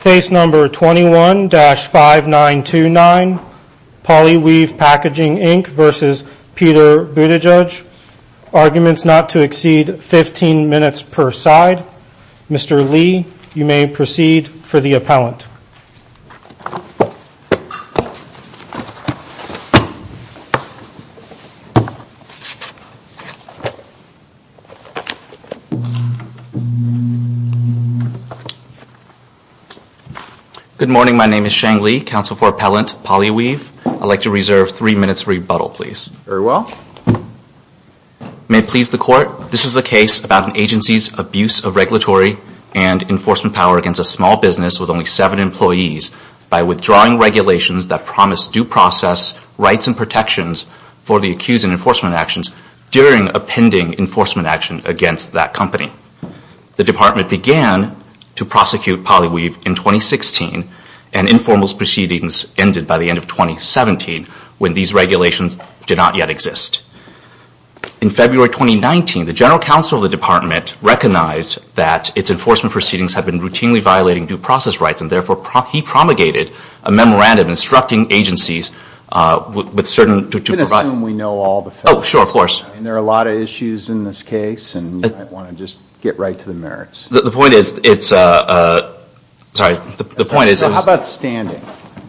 Case number 21-5929 Polyweave Packaging Inc v. Peter Buttigieg Arguments not to exceed 15 minutes per side Mr. Lee, you may proceed for the appellant Good morning, my name is Shang Lee, Counsel for Appellant Polyweave. I'd like to reserve 3 minutes rebuttal, please. Very well. May it please the Court, this is the case about an agency's abuse of regulatory and enforcement power against a small business with only 7 employees by withdrawing regulations that promise due process, rights and protections for the accused in enforcement actions during a pending enforcement action against that company. The Department began to prosecute Polyweave in 2016 and informal proceedings ended by the end of 2017 when these regulations did not yet exist. In February 2019, the General Counsel of the Department recognized that its enforcement proceedings have been routinely violating due process rights and therefore he promulgated a memorandum instructing agencies with certain... You can assume we know all the facts. Oh, sure, of course. And there are a lot of issues in this case and you might want to just get right to the merits. The point is, it's a... Sorry, the point is... How about standing,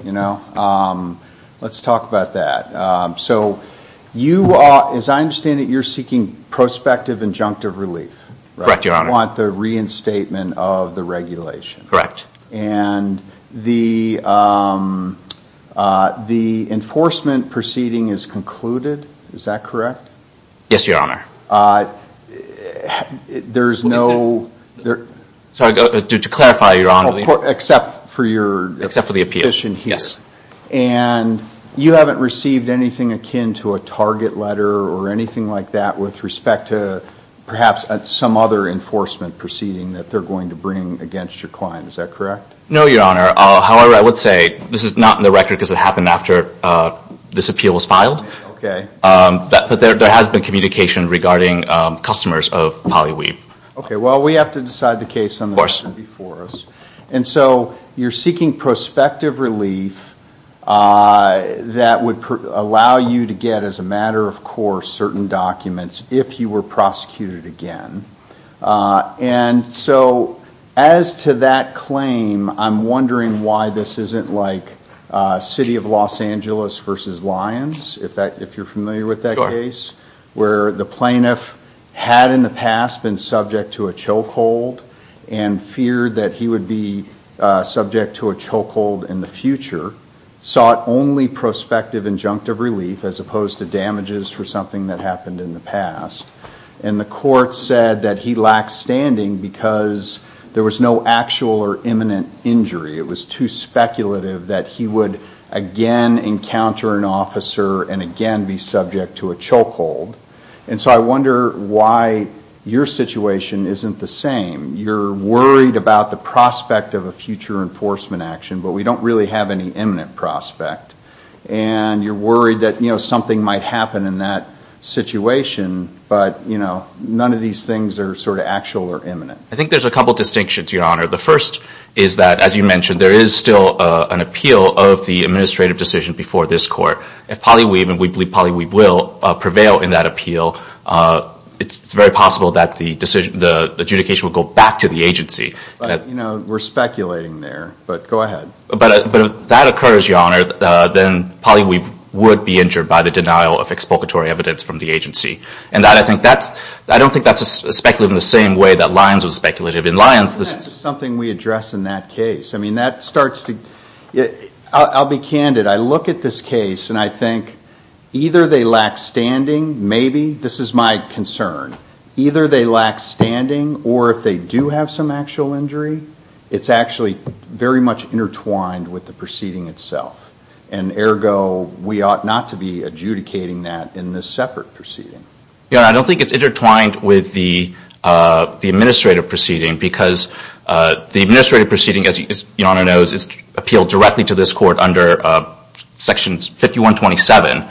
you know? Let's talk about that. So, you are, as I understand it, you're seeking prospective injunctive relief. Correct, Your Honor. You want the reinstatement of the regulation. Correct. And the enforcement proceeding is concluded, is that correct? Yes, Your Honor. There's no... Sorry, to clarify, Your Honor... Except for your... Except for the appeal, yes. And you haven't received anything akin to a target letter or anything like that with respect to perhaps some other enforcement proceeding that they're going to bring against your client, is that correct? No, Your Honor. However, I would say this is not in the record because it happened after this appeal was filed. Okay. But there has been communication regarding customers of Polly Weep. Okay, well, we have to decide the case on the... Of course. ...before us. And so, you're seeking prospective relief that would allow you to get, as a matter of course, certain documents if you were prosecuted again. And so, as to that claim, I'm wondering why this isn't like City of Los Angeles versus Lyons, if you're familiar with that case... Sure. ...where the plaintiff had in the past been subject to a chokehold and feared that he would be subject to a chokehold in the future, sought only prospective injunctive relief as opposed to damages for something that happened in the past. And the court said that he lacked standing because there was no actual or imminent injury. It was too speculative that he would again encounter an officer and again be subject to a chokehold. And so, I wonder why your situation isn't the same. You're worried about the prospect of a future enforcement action, but we don't really have any imminent prospect. And you're worried that something might happen in that situation, but none of these things are sort of actual or imminent. I think there's a couple of distinctions, Your Honor. The first is that, as you mentioned, there is still an appeal of the administrative decision before this court. If Polly Weave, and we believe Polly Weave will, prevail in that appeal, it's very possible that the adjudication will go back to the agency. But we're speculating there, but go ahead. But if that occurs, Your Honor, then Polly Weave would be injured by the denial of exploitatory evidence from the agency. And I don't think that's speculative in the same way that Lyons was speculative. In Lyons, this is something we address in that case. I mean, that starts to – I'll be candid. I look at this case, and I think either they lack standing, maybe. This is my concern. Either they lack standing, or if they do have some actual injury, it's actually very much intertwined with the proceeding itself. And ergo, we ought not to be adjudicating that in this separate proceeding. Your Honor, I don't think it's intertwined with the administrative proceeding, because the administrative proceeding, as Your Honor knows, is appealed directly to this court under Section 5127.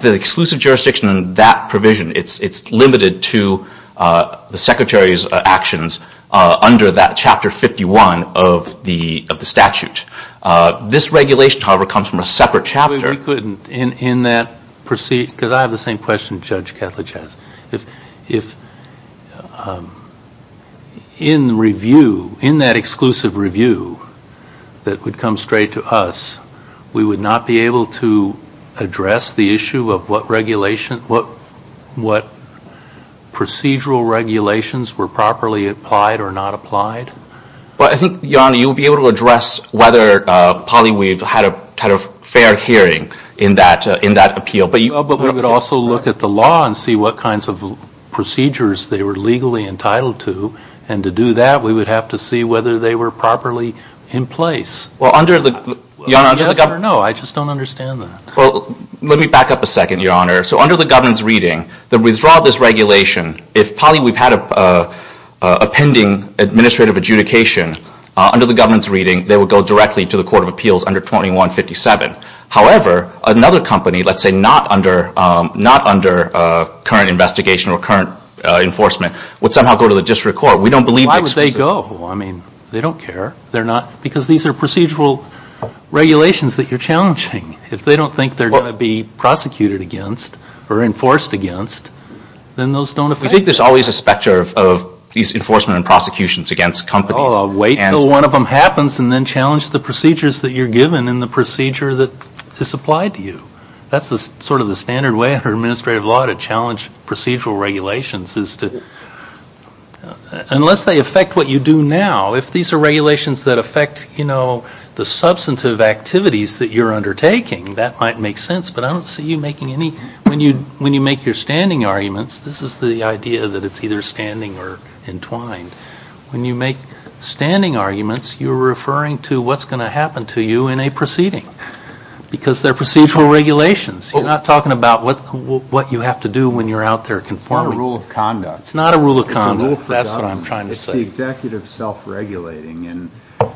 The exclusive jurisdiction in that provision, it's limited to the Secretary's actions under that Chapter 51 of the statute. This regulation, however, comes from a separate chapter. We couldn't, in that – because I have the same question Judge Ketledge has. If in review, in that exclusive review that would come straight to us, we would not be able to address the issue of what procedural regulations were properly applied or not applied? Well, I think, Your Honor, you would be able to address whether Polly Weave had a fair hearing in that appeal. But we would also look at the law and see what kinds of procedures they were legally entitled to. And to do that, we would have to see whether they were properly in place. Well, under the – Your Honor, under the – Yes or no? I just don't understand that. Well, let me back up a second, Your Honor. So under the governance reading, the withdrawal of this regulation, if Polly Weave had a pending administrative adjudication, under the governance reading, they would go directly to the Court of Appeals under 2157. However, another company, let's say not under current investigation or current enforcement, would somehow go to the district court. We don't believe the exclusive – Why would they go? I mean, they don't care. They're not – because these are procedural regulations that you're challenging. If they don't think they're going to be prosecuted against or enforced against, then those don't affect them. We think there's always a specter of these enforcement and prosecutions against companies. Well, wait until one of them happens and then challenge the procedures that you're given and the procedure that is applied to you. That's sort of the standard way under administrative law to challenge procedural regulations is to – unless they affect what you do now, if these are regulations that affect, you know, the substantive activities that you're undertaking, that might make sense. But I don't see you making any – when you make your standing arguments, this is the idea that it's either standing or entwined. When you make standing arguments, you're referring to what's going to happen to you in a proceeding because they're procedural regulations. You're not talking about what you have to do when you're out there conforming. It's not a rule of conduct. It's not a rule of conduct. It's a rule of conduct. That's what I'm trying to say. It's the executive self-regulating. And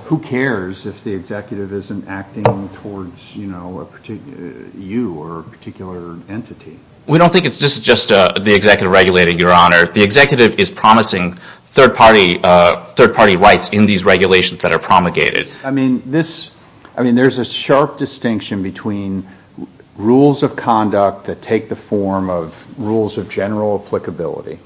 who cares if the executive isn't acting towards, you know, you or a particular entity? We don't think it's just the executive regulating, Your Honor. The executive is promising third-party rights in these regulations that are promulgated. I mean, this – I mean, there's a sharp distinction between rules of conduct that take the form of rules of general applicability,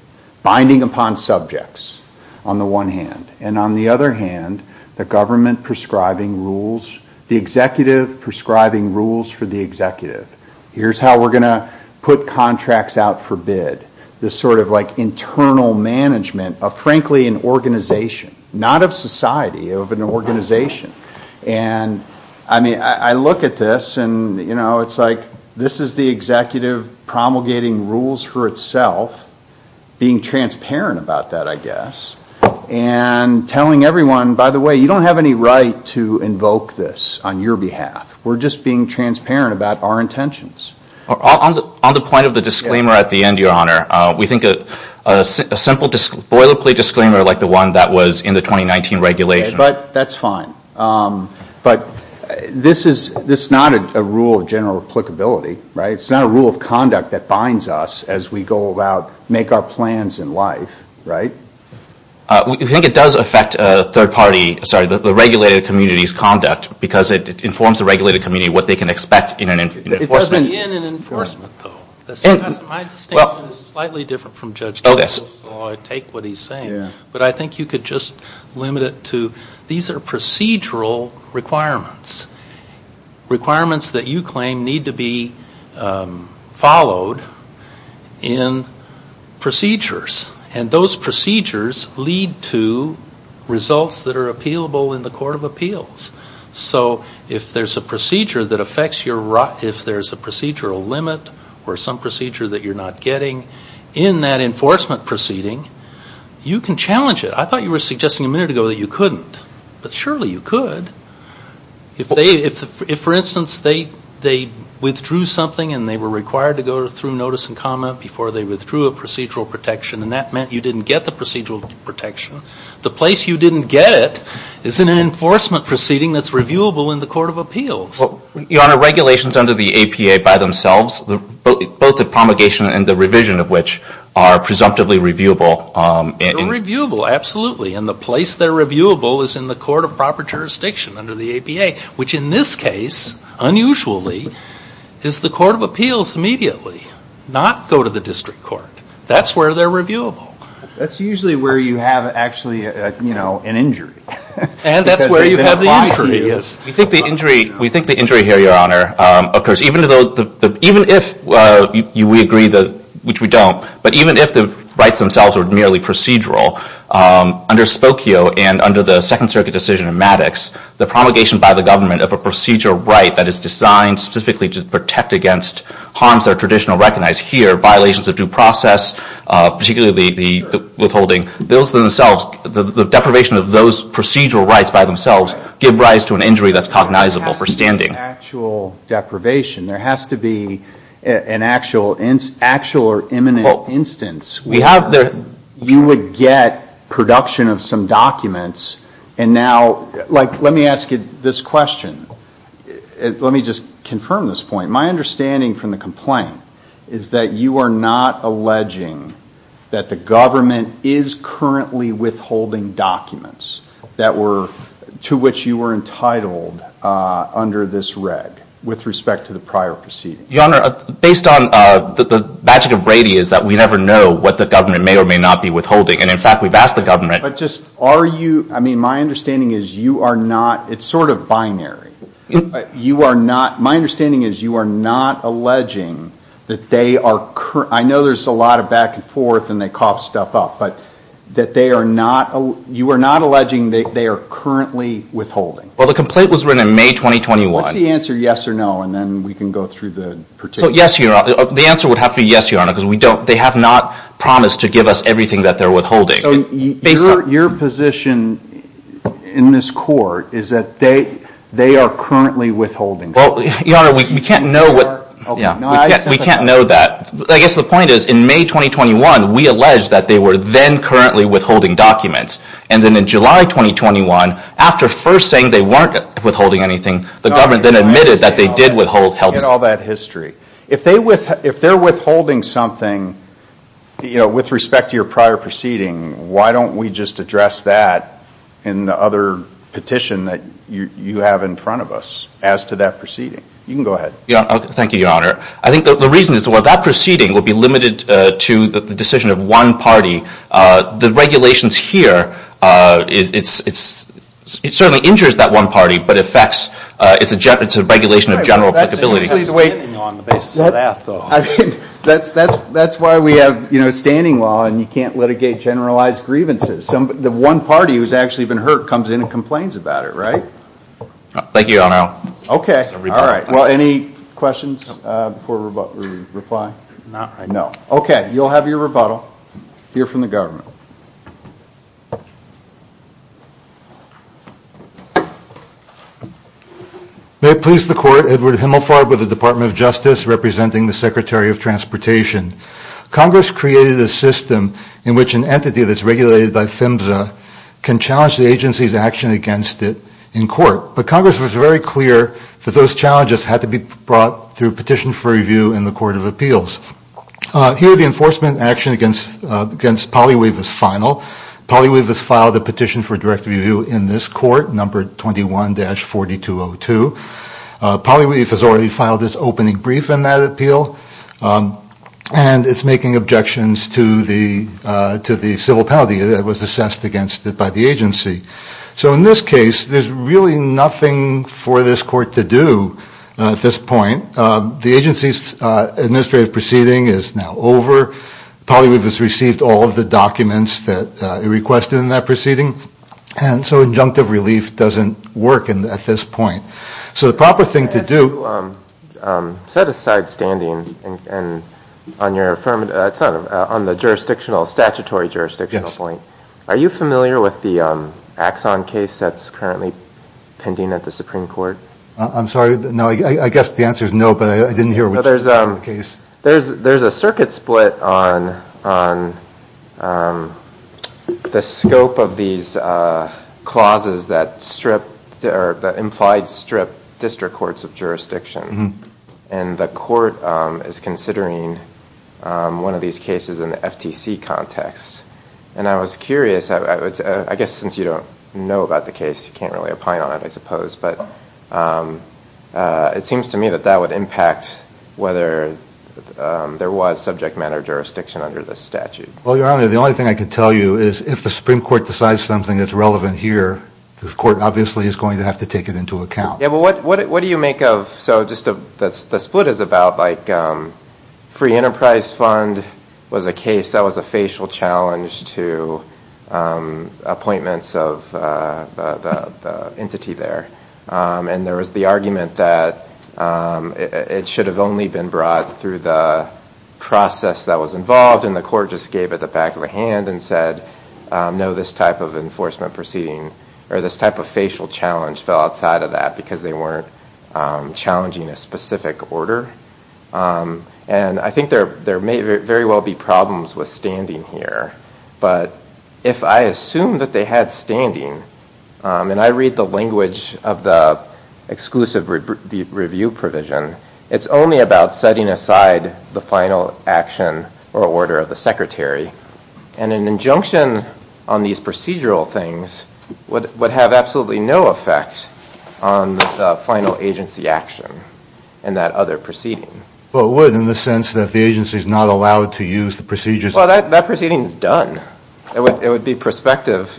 binding upon subjects on the one hand, and on the other hand, the government prescribing rules, the executive prescribing rules for the executive. Here's how we're going to put contracts out for bid. This sort of, like, internal management of, frankly, an organization, not of society, of an organization. And, I mean, I look at this and, you know, it's like this is the executive promulgating rules for itself, being transparent about that, I guess, and telling everyone, by the way, you don't have any right to invoke this on your behalf. We're just being transparent about our intentions. On the point of the disclaimer at the end, Your Honor, we think a simple boilerplate disclaimer like the one that was in the 2019 regulation. But that's fine. But this is – this is not a rule of general applicability, right? It's not a rule of conduct that binds us as we go about – make our plans in life, right? We think it does affect third-party – sorry, the regulated community's conduct because it informs the regulated community what they can expect in an enforcement. It doesn't in an enforcement, though. My distinction is slightly different from Judge Kagan's. Oh, yes. I take what he's saying. Yeah. But I think you could just limit it to these are procedural requirements, requirements that you claim need to be followed in procedures. And those procedures lead to results that are appealable in the court of appeals. So if there's a procedure that affects your – if there's a procedural limit or some procedure that you're not getting in that enforcement proceeding, you can challenge it. I thought you were suggesting a minute ago that you couldn't. But surely you could. If they – if, for instance, they withdrew something and they were required to go through notice and comment before they withdrew a procedural protection and that meant you didn't get the procedural protection, the place you didn't get it is in an enforcement proceeding that's reviewable in the court of appeals. Your Honor, regulations under the APA by themselves, both the promulgation and the revision of which are presumptively reviewable. They're reviewable, absolutely. And the place they're reviewable is in the court of proper jurisdiction under the APA, which in this case, unusually, is the court of appeals immediately. Not go to the district court. That's where they're reviewable. That's usually where you have actually, you know, an injury. And that's where you have the injury. We think the injury – we think the injury here, Your Honor, occurs even though – even if we agree that – which we don't, but even if the rights themselves are merely procedural, under Spokio and under the Second Circuit decision in Maddox, the promulgation by the government of a procedural right that is designed specifically to protect against harms that are traditionally recognized here, violations of due process, particularly the withholding, those themselves, the deprivation of those procedural rights by themselves, give rise to an injury that's cognizable, for standing. There has to be actual deprivation. There has to be an actual or imminent instance. You would get production of some documents, and now – like, let me ask you this question. Let me just confirm this point. My understanding from the complaint is that you are not alleging that the government is currently withholding documents that were – to which you were entitled under this reg with respect to the prior proceedings. Your Honor, based on the magic of Brady is that we never know what the government may or may not be withholding. And, in fact, we've asked the government – But just are you – I mean, my understanding is you are not – it's sort of binary. You are not – my understanding is you are not alleging that they are – I know there's a lot of back and forth and they cough stuff up, but that they are not – you are not alleging that they are currently withholding. Well, the complaint was written in May 2021. What's the answer, yes or no, and then we can go through the – So, yes, Your Honor – the answer would have to be yes, Your Honor, because we don't – they have not promised to give us everything that they're withholding. So your position in this court is that they are currently withholding. Well, Your Honor, we can't know what – we can't know that. I guess the point is in May 2021, we alleged that they were then currently withholding documents. And then in July 2021, after first saying they weren't withholding anything, the government then admitted that they did withhold – Get all that history. If they're withholding something, you know, with respect to your prior proceeding, why don't we just address that in the other petition that you have in front of us as to that proceeding? You can go ahead. Thank you, Your Honor. I think the reason is that while that proceeding will be limited to the decision of one party, the regulations here, it certainly injures that one party, but it affects – it's a regulation of general applicability. It has standing on the basis of that, though. I mean, that's why we have, you know, standing law, and you can't litigate generalized grievances. The one party who's actually been hurt comes in and complains about it, right? Thank you, Your Honor. Okay. All right. Well, any questions before we reply? Not right now. No. Okay. You'll have your rebuttal. Hear from the government. May it please the Court. Edward Himmelfarb with the Department of Justice, representing the Secretary of Transportation. Congress created a system in which an entity that's regulated by PHMSA can challenge the agency's action against it in court, but Congress was very clear that those challenges had to be brought through petition for review in the Court of Appeals. Here, the enforcement action against PolyWave is final. PolyWave has filed a petition for direct review in this court, numbered 21-4202. PolyWave has already filed its opening brief in that appeal, and it's making objections to the civil penalty that was assessed against it by the agency. So in this case, there's really nothing for this court to do at this point. The agency's administrative proceeding is now over. PolyWave has received all of the documents that it requested in that proceeding, and so injunctive relief doesn't work at this point. So the proper thing to do – You said a side standing on the statutory jurisdictional point. Are you familiar with the Axon case that's currently pending at the Supreme Court? I'm sorry? I guess the answer is no, but I didn't hear which part of the case. There's a circuit split on the scope of these clauses that implied strip district courts of jurisdiction, and the court is considering one of these cases in the FTC context. And I was curious, I guess since you don't know about the case, you can't really opine on it I suppose, but it seems to me that that would impact whether there was subject matter jurisdiction under this statute. Well, Your Honor, the only thing I can tell you is if the Supreme Court decides something that's relevant here, the court obviously is going to have to take it into account. Yeah, but what do you make of – so just the split is about like free enterprise fund was a case that was a facial challenge to appointments of the entity there. And there was the argument that it should have only been brought through the process that was involved, and the court just gave it the back of the hand and said no, this type of enforcement proceeding, or this type of facial challenge fell outside of that because they weren't challenging a specific order. And I think there may very well be problems with standing here, but if I assume that they had standing, and I read the language of the exclusive review provision, it's only about setting aside the final action or order of the secretary. And an injunction on these procedural things would have absolutely no effect on the final agency action and that other proceeding. Well, it would in the sense that the agency is not allowed to use the procedures. Well, that proceeding is done. It would be prospective.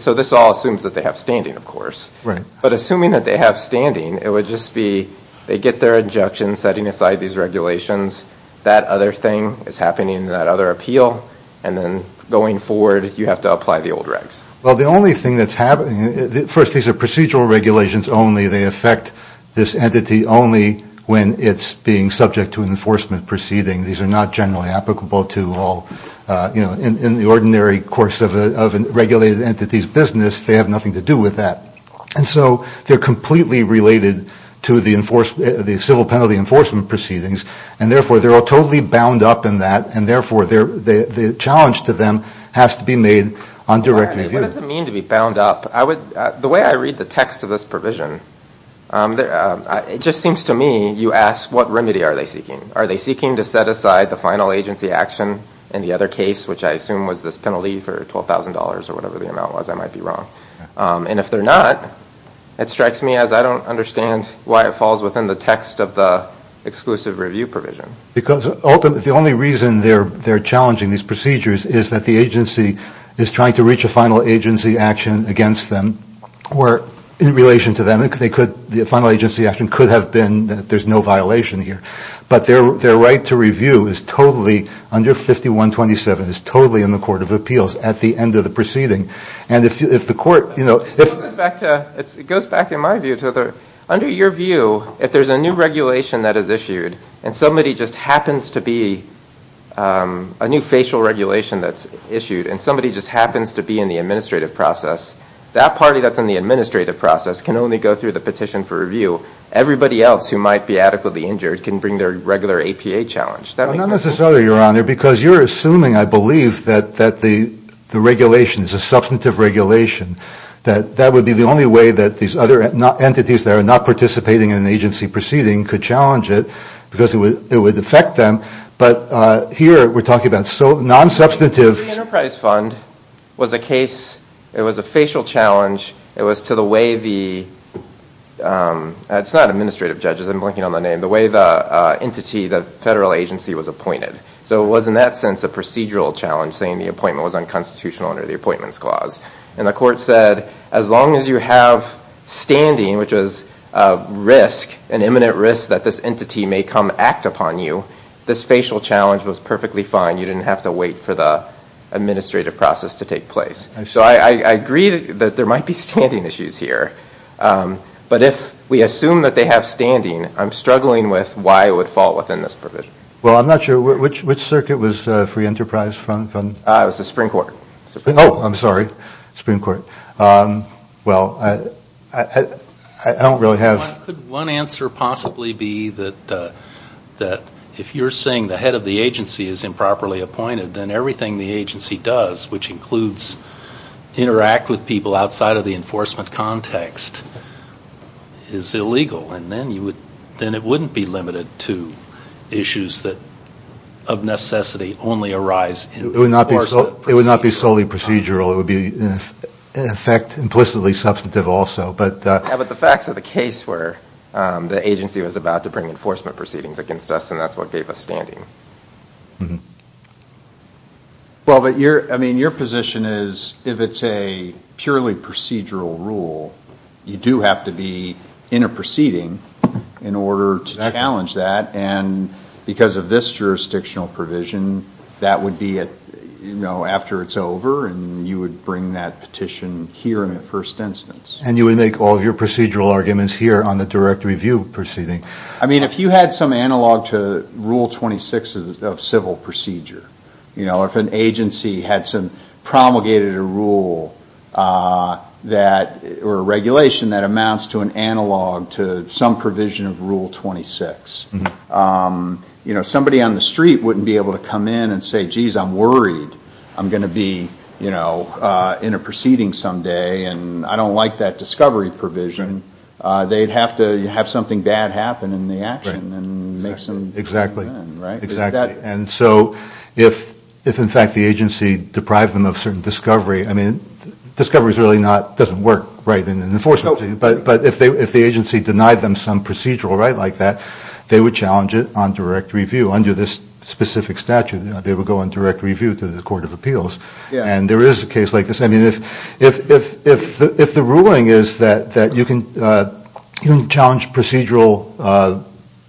So this all assumes that they have standing, of course. Right. But assuming that they have standing, it would just be they get their injunction, setting aside these regulations, that other thing is happening, that other appeal, and then going forward you have to apply the old regs. Well, the only thing that's happening – first, these are procedural regulations only. They affect this entity only when it's being subject to an enforcement proceeding. These are not generally applicable to all – in the ordinary course of a regulated entity's business, they have nothing to do with that. And so they're completely related to the civil penalty enforcement proceedings, and therefore they're all totally bound up in that, and therefore the challenge to them has to be made on direct review. What does it mean to be bound up? The way I read the text of this provision, it just seems to me you ask, what remedy are they seeking? Are they seeking to set aside the final agency action in the other case, which I assume was this penalty for $12,000 or whatever the amount was. I might be wrong. And if they're not, it strikes me as I don't understand why it falls within the text of the exclusive review provision. Because ultimately the only reason they're challenging these procedures is that the agency is trying to reach a final agency action against them or in relation to them. The final agency action could have been that there's no violation here. But their right to review is totally, under 5127, is totally in the Court of Appeals at the end of the proceeding. And if the court – It goes back, in my view, to under your view, if there's a new regulation that is issued and somebody just happens to be a new facial regulation that's issued and somebody just happens to be in the administrative process, that party that's in the administrative process can only go through the petition for review. Everybody else who might be adequately injured can bring their regular APA challenge. That makes no sense. Not necessarily, Your Honor, because you're assuming, I believe, that the regulation is a substantive regulation, that that would be the only way that these other entities that are not participating in an agency proceeding could challenge it. Because it would affect them. But here we're talking about non-substantive – The Enterprise Fund was a case – It was a facial challenge. It was to the way the – It's not administrative, judges. I'm blinking on the name. The way the entity, the federal agency, was appointed. So it was, in that sense, a procedural challenge, saying the appointment was unconstitutional under the Appointments Clause. And the court said, as long as you have standing, which was risk, an imminent risk that this entity may come act upon you, this facial challenge was perfectly fine. You didn't have to wait for the administrative process to take place. So I agree that there might be standing issues here. But if we assume that they have standing, I'm struggling with why it would fall within this provision. Well, I'm not sure. Which circuit was Free Enterprise Fund? It was the Supreme Court. Oh, I'm sorry. Supreme Court. Well, I don't really have – Could one answer possibly be that if you're saying the head of the agency is improperly appointed, then everything the agency does, which includes interact with people outside of the enforcement context, is illegal. And then it wouldn't be limited to issues that, of necessity, only arise in – It would not be solely procedural. It would be, in effect, implicitly substantive also. Yeah, but the facts of the case were the agency was about to bring enforcement proceedings against us, and that's what gave us standing. Well, but your position is if it's a purely procedural rule, you do have to be in a proceeding in order to challenge that. And because of this jurisdictional provision, that would be after it's over and you would bring that petition here in the first instance. And you would make all of your procedural arguments here on the direct review proceeding. I mean, if you had some analog to Rule 26 of civil procedure, or if an agency had promulgated a rule that – or a regulation that amounts to an analog to some provision of Rule 26, somebody on the street wouldn't be able to come in and say, geez, I'm worried I'm going to be in a proceeding someday and I don't like that discovery provision. They'd have to have something bad happen in the action and make some – Exactly. Right? Exactly. And so if, in fact, the agency deprived them of certain discovery – I mean, discovery is really not – doesn't work, right, in enforcement. But if the agency denied them some procedural right like that, they would challenge it on direct review under this specific statute. They would go on direct review to the court of appeals. Yeah. And there is a case like this. I mean, if the ruling is that you can challenge procedural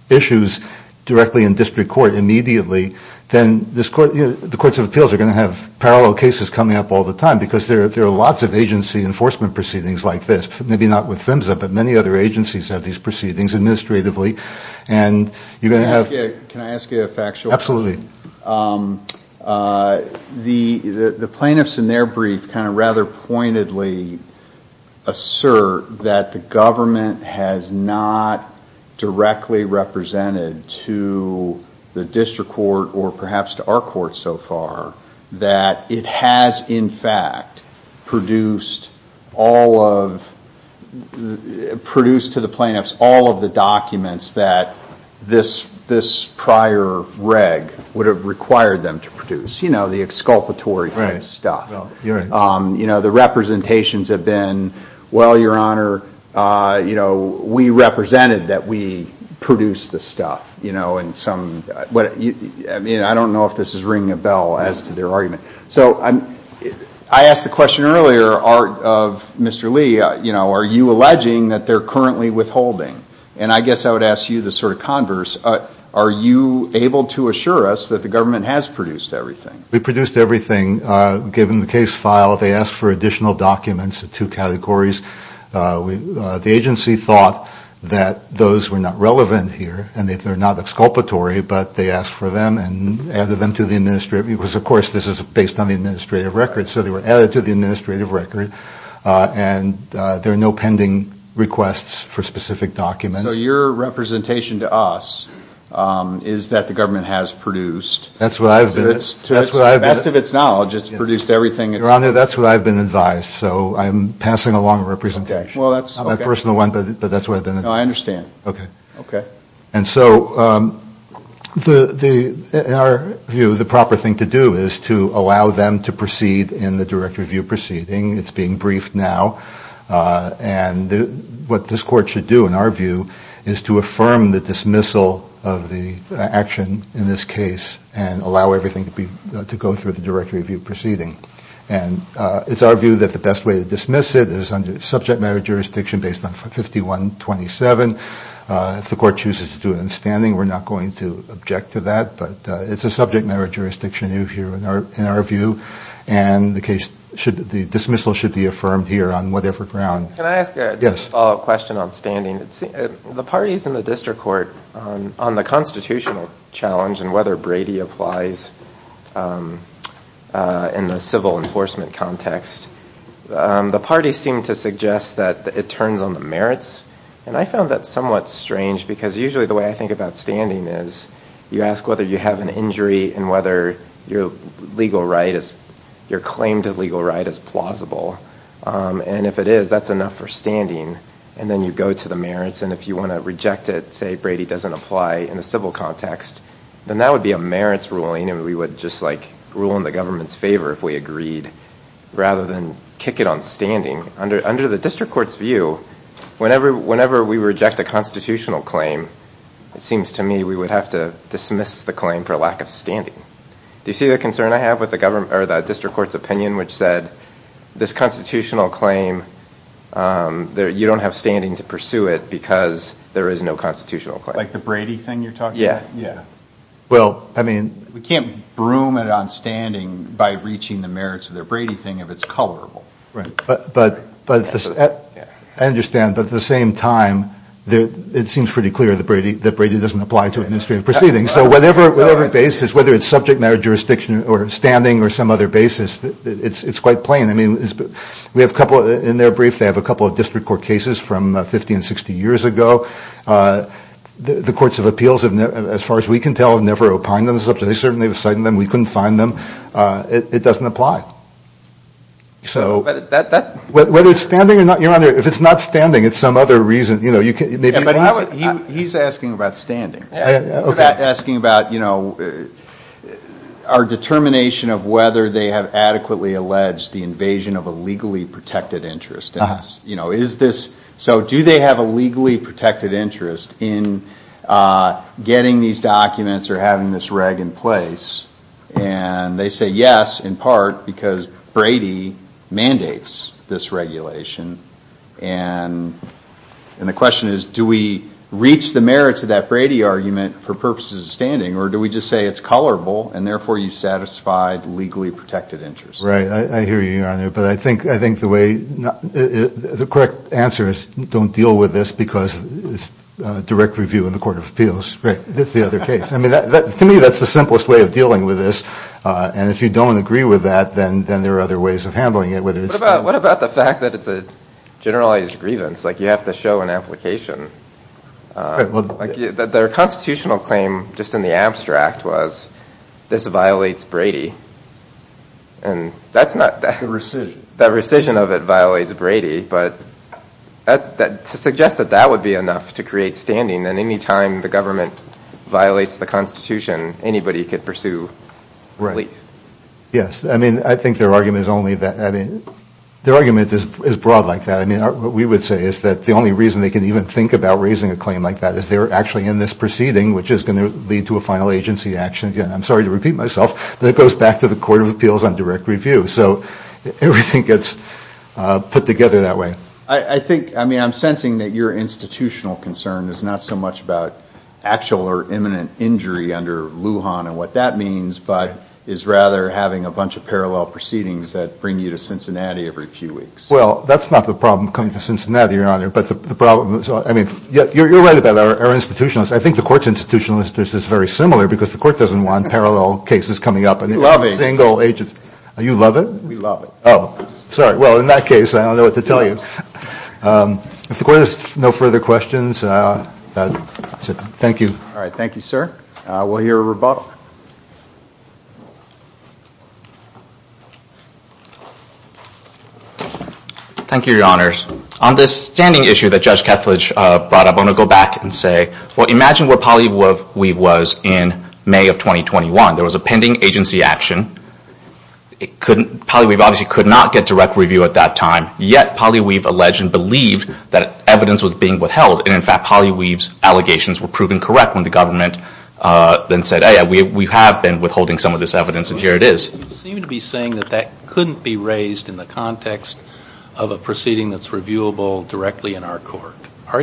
issues directly in district court immediately, then the courts of appeals are going to have parallel cases coming up all the time because there are lots of agency enforcement proceedings like this, maybe not with PHMSA, but many other agencies have these proceedings administratively. And you're going to have – Can I ask you a factual question? Absolutely. The plaintiffs in their brief kind of rather pointedly assert that the government has not directly represented to the district court or perhaps to our court so far that it has, in fact, produced all of – would have required them to produce, you know, the exculpatory kind of stuff. Right. You're right. You know, the representations have been, well, Your Honor, you know, we represented that we produced the stuff, you know, and some – I mean, I don't know if this is ringing a bell as to their argument. So I asked the question earlier of Mr. Lee, you know, are you alleging that they're currently withholding? And I guess I would ask you the sort of converse. Are you able to assure us that the government has produced everything? We produced everything. Given the case file, they asked for additional documents of two categories. The agency thought that those were not relevant here and that they're not exculpatory, but they asked for them and added them to the administrative – because, of course, this is based on the administrative record, so they were added to the administrative record, and there are no pending requests for specific documents. So your representation to us is that the government has produced. That's what I've been – To the best of its knowledge, it's produced everything. Your Honor, that's what I've been advised. So I'm passing along a representation. Okay. Well, that's – I'm a personal one, but that's what I've been advised. No, I understand. Okay. Okay. And so in our view, the proper thing to do is to allow them to proceed in the direct review proceeding. It's being briefed now, and what this Court should do, in our view, is to affirm the dismissal of the action in this case and allow everything to go through the direct review proceeding. And it's our view that the best way to dismiss it is under subject matter jurisdiction based on 51-27. If the Court chooses to do it in standing, we're not going to object to that, but it's a subject matter jurisdiction in our view, and the dismissal should be affirmed here on whatever ground. Can I ask a follow-up question on standing? Yes. The parties in the district court, on the constitutional challenge and whether Brady applies in the civil enforcement context, the parties seem to suggest that it turns on the merits, and I found that somewhat strange because usually the way I think about standing is you ask whether you have an injury and whether your claim to legal right is plausible, and if it is, that's enough for standing. And then you go to the merits, and if you want to reject it, say Brady doesn't apply in the civil context, then that would be a merits ruling and we would just rule in the government's favor if we agreed rather than kick it on standing. Under the district court's view, whenever we reject a constitutional claim, it seems to me we would have to dismiss the claim for lack of standing. Do you see the concern I have with the district court's opinion which said this constitutional claim, you don't have standing to pursue it because there is no constitutional claim? Like the Brady thing you're talking about? Yes. We can't broom it on standing by reaching the merits of the Brady thing if it's colorable. I understand, but at the same time, it seems pretty clear that Brady doesn't apply to administrative proceedings. So whatever basis, whether it's subject matter, jurisdiction, or standing, or some other basis, it's quite plain. In their brief, they have a couple of district court cases from 50 and 60 years ago. The courts of appeals, as far as we can tell, have never opined on the subject. They certainly have cited them. We couldn't find them. It doesn't apply. Whether it's standing or not, if it's not standing, it's some other reason. He's asking about standing. He's asking about our determination of whether they have adequately alleged the invasion of a legally protected interest. So do they have a legally protected interest in getting these documents or having this reg in place? And they say yes, in part, because Brady mandates this regulation. And the question is, do we reach the merits of that Brady argument for purposes of standing, or do we just say it's colorable and therefore you satisfied legally protected interest? Right. I hear you, Your Honor. But I think the correct answer is don't deal with this because it's direct review in the court of appeals. Right. That's the other case. I mean, to me, that's the simplest way of dealing with this. And if you don't agree with that, then there are other ways of handling it. What about the fact that it's a generalized grievance, like you have to show an application? Their constitutional claim, just in the abstract, was this violates Brady. And that's not that. The rescission. The rescission of it violates Brady. But to suggest that that would be enough to create standing, then any time the government violates the Constitution, anybody could pursue relief. Right. Yes. I mean, I think their argument is only that, I mean, their argument is broad like that. I mean, what we would say is that the only reason they can even think about raising a claim like that is they're actually in this proceeding, which is going to lead to a final agency action. Again, I'm sorry to repeat myself, but it goes back to the court of appeals on direct review. So everything gets put together that way. I think, I mean, I'm sensing that your institutional concern is not so much about actual or imminent injury under Lujan and what that means, but is rather having a bunch of parallel proceedings that bring you to Cincinnati every few weeks. Well, that's not the problem coming to Cincinnati, Your Honor. But the problem is, I mean, you're right about our institution. I think the court's institution is very similar because the court doesn't want parallel cases coming up. You love it. We love it. Oh, sorry. Well, in that case, I don't know what to tell you. If the court has no further questions, thank you. All right. Thank you, sir. We'll hear a rebuttal. Thank you, Your Honors. On this standing issue that Judge Kethledge brought up, I'm going to go back and say, well, imagine what Polly Weave was in May of 2021. There was a pending agency action. Polly Weave obviously could not get direct review at that time, yet Polly Weave alleged and believed that evidence was being withheld. And, in fact, Polly Weave's allegations were proven correct when the government then said, hey, we have been withholding some of this evidence and here it is. You seem to be saying that that couldn't be raised in the context of a proceeding that's reviewable directly in our court. So,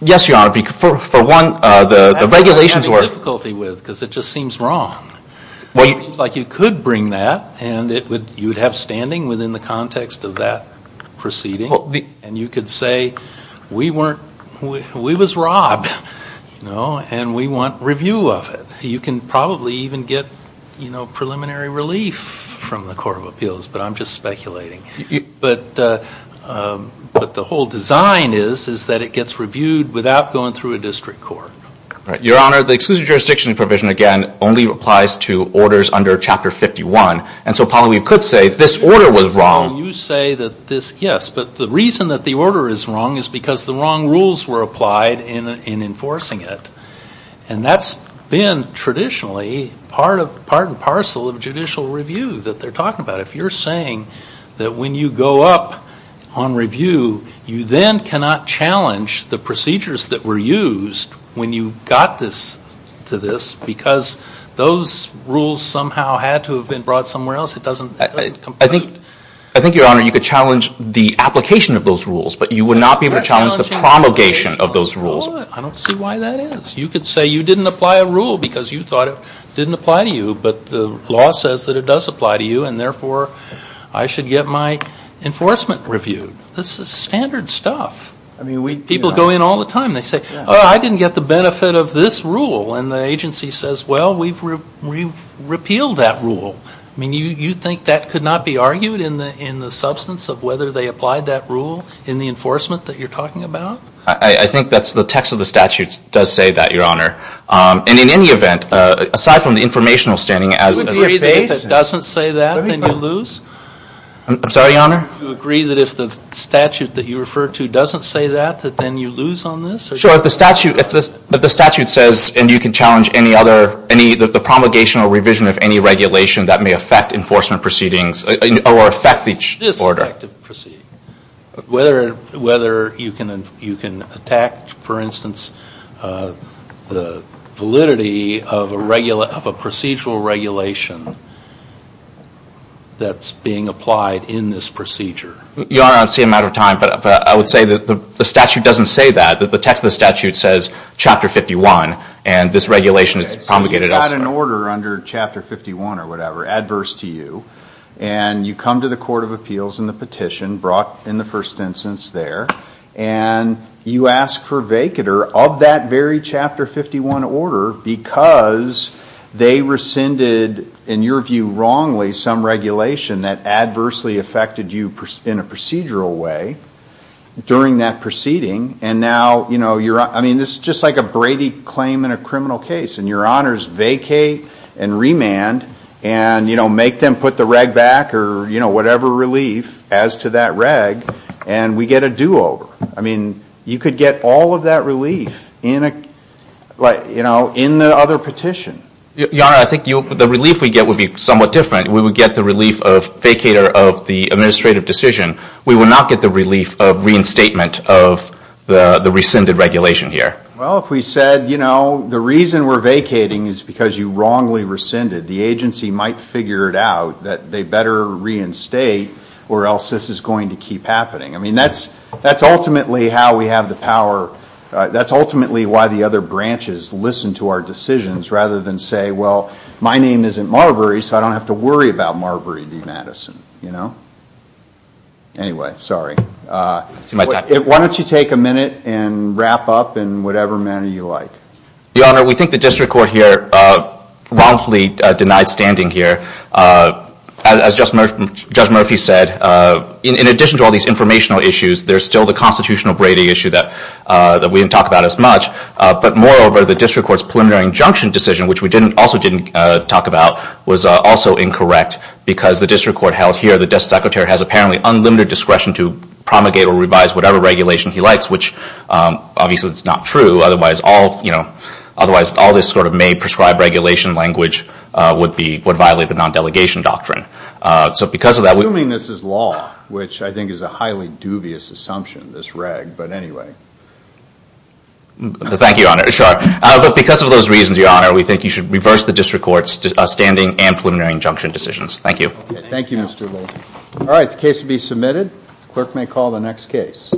yes, Your Honor. For one, the regulations were. That's what I'm having difficulty with because it just seems wrong. It seems like you could bring that and you would have standing within the context of that proceeding. And you could say, we was robbed, and we want review of it. You can probably even get preliminary relief from the Court of Appeals, but I'm just speculating. But the whole design is that it gets reviewed without going through a district court. Your Honor, the exclusive jurisdiction provision, again, only applies to orders under Chapter 51. And so Polly Weave could say this order was wrong. You say that this, yes, but the reason that the order is wrong is because the wrong rules were applied in enforcing it. And that's been traditionally part and parcel of judicial review that they're talking about. If you're saying that when you go up on review, you then cannot challenge the procedures that were used when you got this to this because those rules somehow had to have been brought somewhere else. It doesn't compute. I think, Your Honor, you could challenge the application of those rules, but you would not be able to challenge the promulgation of those rules. I don't see why that is. You could say you didn't apply a rule because you thought it didn't apply to you, but the law says that it does apply to you, and therefore, I should get my enforcement reviewed. This is standard stuff. People go in all the time. They say, oh, I didn't get the benefit of this rule. And the agency says, well, we've repealed that rule. I mean, you think that could not be argued in the substance of whether they applied that rule in the enforcement that you're talking about? I think that's the text of the statute does say that, Your Honor. And in any event, aside from the informational standing as a Do you agree that if it doesn't say that, then you lose? I'm sorry, Your Honor? Do you agree that if the statute that you refer to doesn't say that, that then you lose on this? Sure. If the statute says, and you can challenge any other, the promulgation or revision of any regulation that may affect enforcement proceedings or affect each order. Whether you can attack, for instance, the validity of a procedural regulation that's being applied in this procedure. Your Honor, I don't see a matter of time, but I would say that the statute doesn't say that. The text of the statute says Chapter 51, and this regulation is promulgated elsewhere. You've got an order under Chapter 51 or whatever, adverse to you. And you come to the Court of Appeals and the petition brought in the first instance there, and you ask for vacater of that very Chapter 51 order because they rescinded, in your view, wrongly, some regulation that adversely affected you in a procedural way during that proceeding. I mean, this is just like a Brady claim in a criminal case. And your honors vacate and remand and make them put the reg back or whatever relief as to that reg, and we get a do-over. I mean, you could get all of that relief in the other petition. Your Honor, I think the relief we get would be somewhat different. We would get the relief of vacater of the administrative decision. We would not get the relief of reinstatement of the rescinded regulation here. Well, if we said, you know, the reason we're vacating is because you wrongly rescinded, the agency might figure it out that they better reinstate or else this is going to keep happening. I mean, that's ultimately how we have the power. That's ultimately why the other branches listen to our decisions rather than say, well, my name isn't Marbury, so I don't have to worry about Marbury v. Madison, you know? Anyway, sorry. Why don't you take a minute and wrap up in whatever manner you like. Your Honor, we think the district court here wrongfully denied standing here. As Judge Murphy said, in addition to all these informational issues, there's still the constitutional Brady issue that we didn't talk about as much. But moreover, the district court's preliminary injunction decision, which we also didn't talk about, was also incorrect because the district court held here the desk secretary has apparently unlimited discretion to promulgate or revise whatever regulation he likes, which obviously is not true. Otherwise, all this sort of made prescribed regulation language would violate the non-delegation doctrine. Assuming this is law, which I think is a highly dubious assumption, this reg. But anyway. Thank you, Your Honor. But because of those reasons, Your Honor, we think you should reverse the district court's standing and preliminary injunction decisions. Thank you. Thank you, Mr. Logan. All right, the case will be submitted. The clerk may call the next case.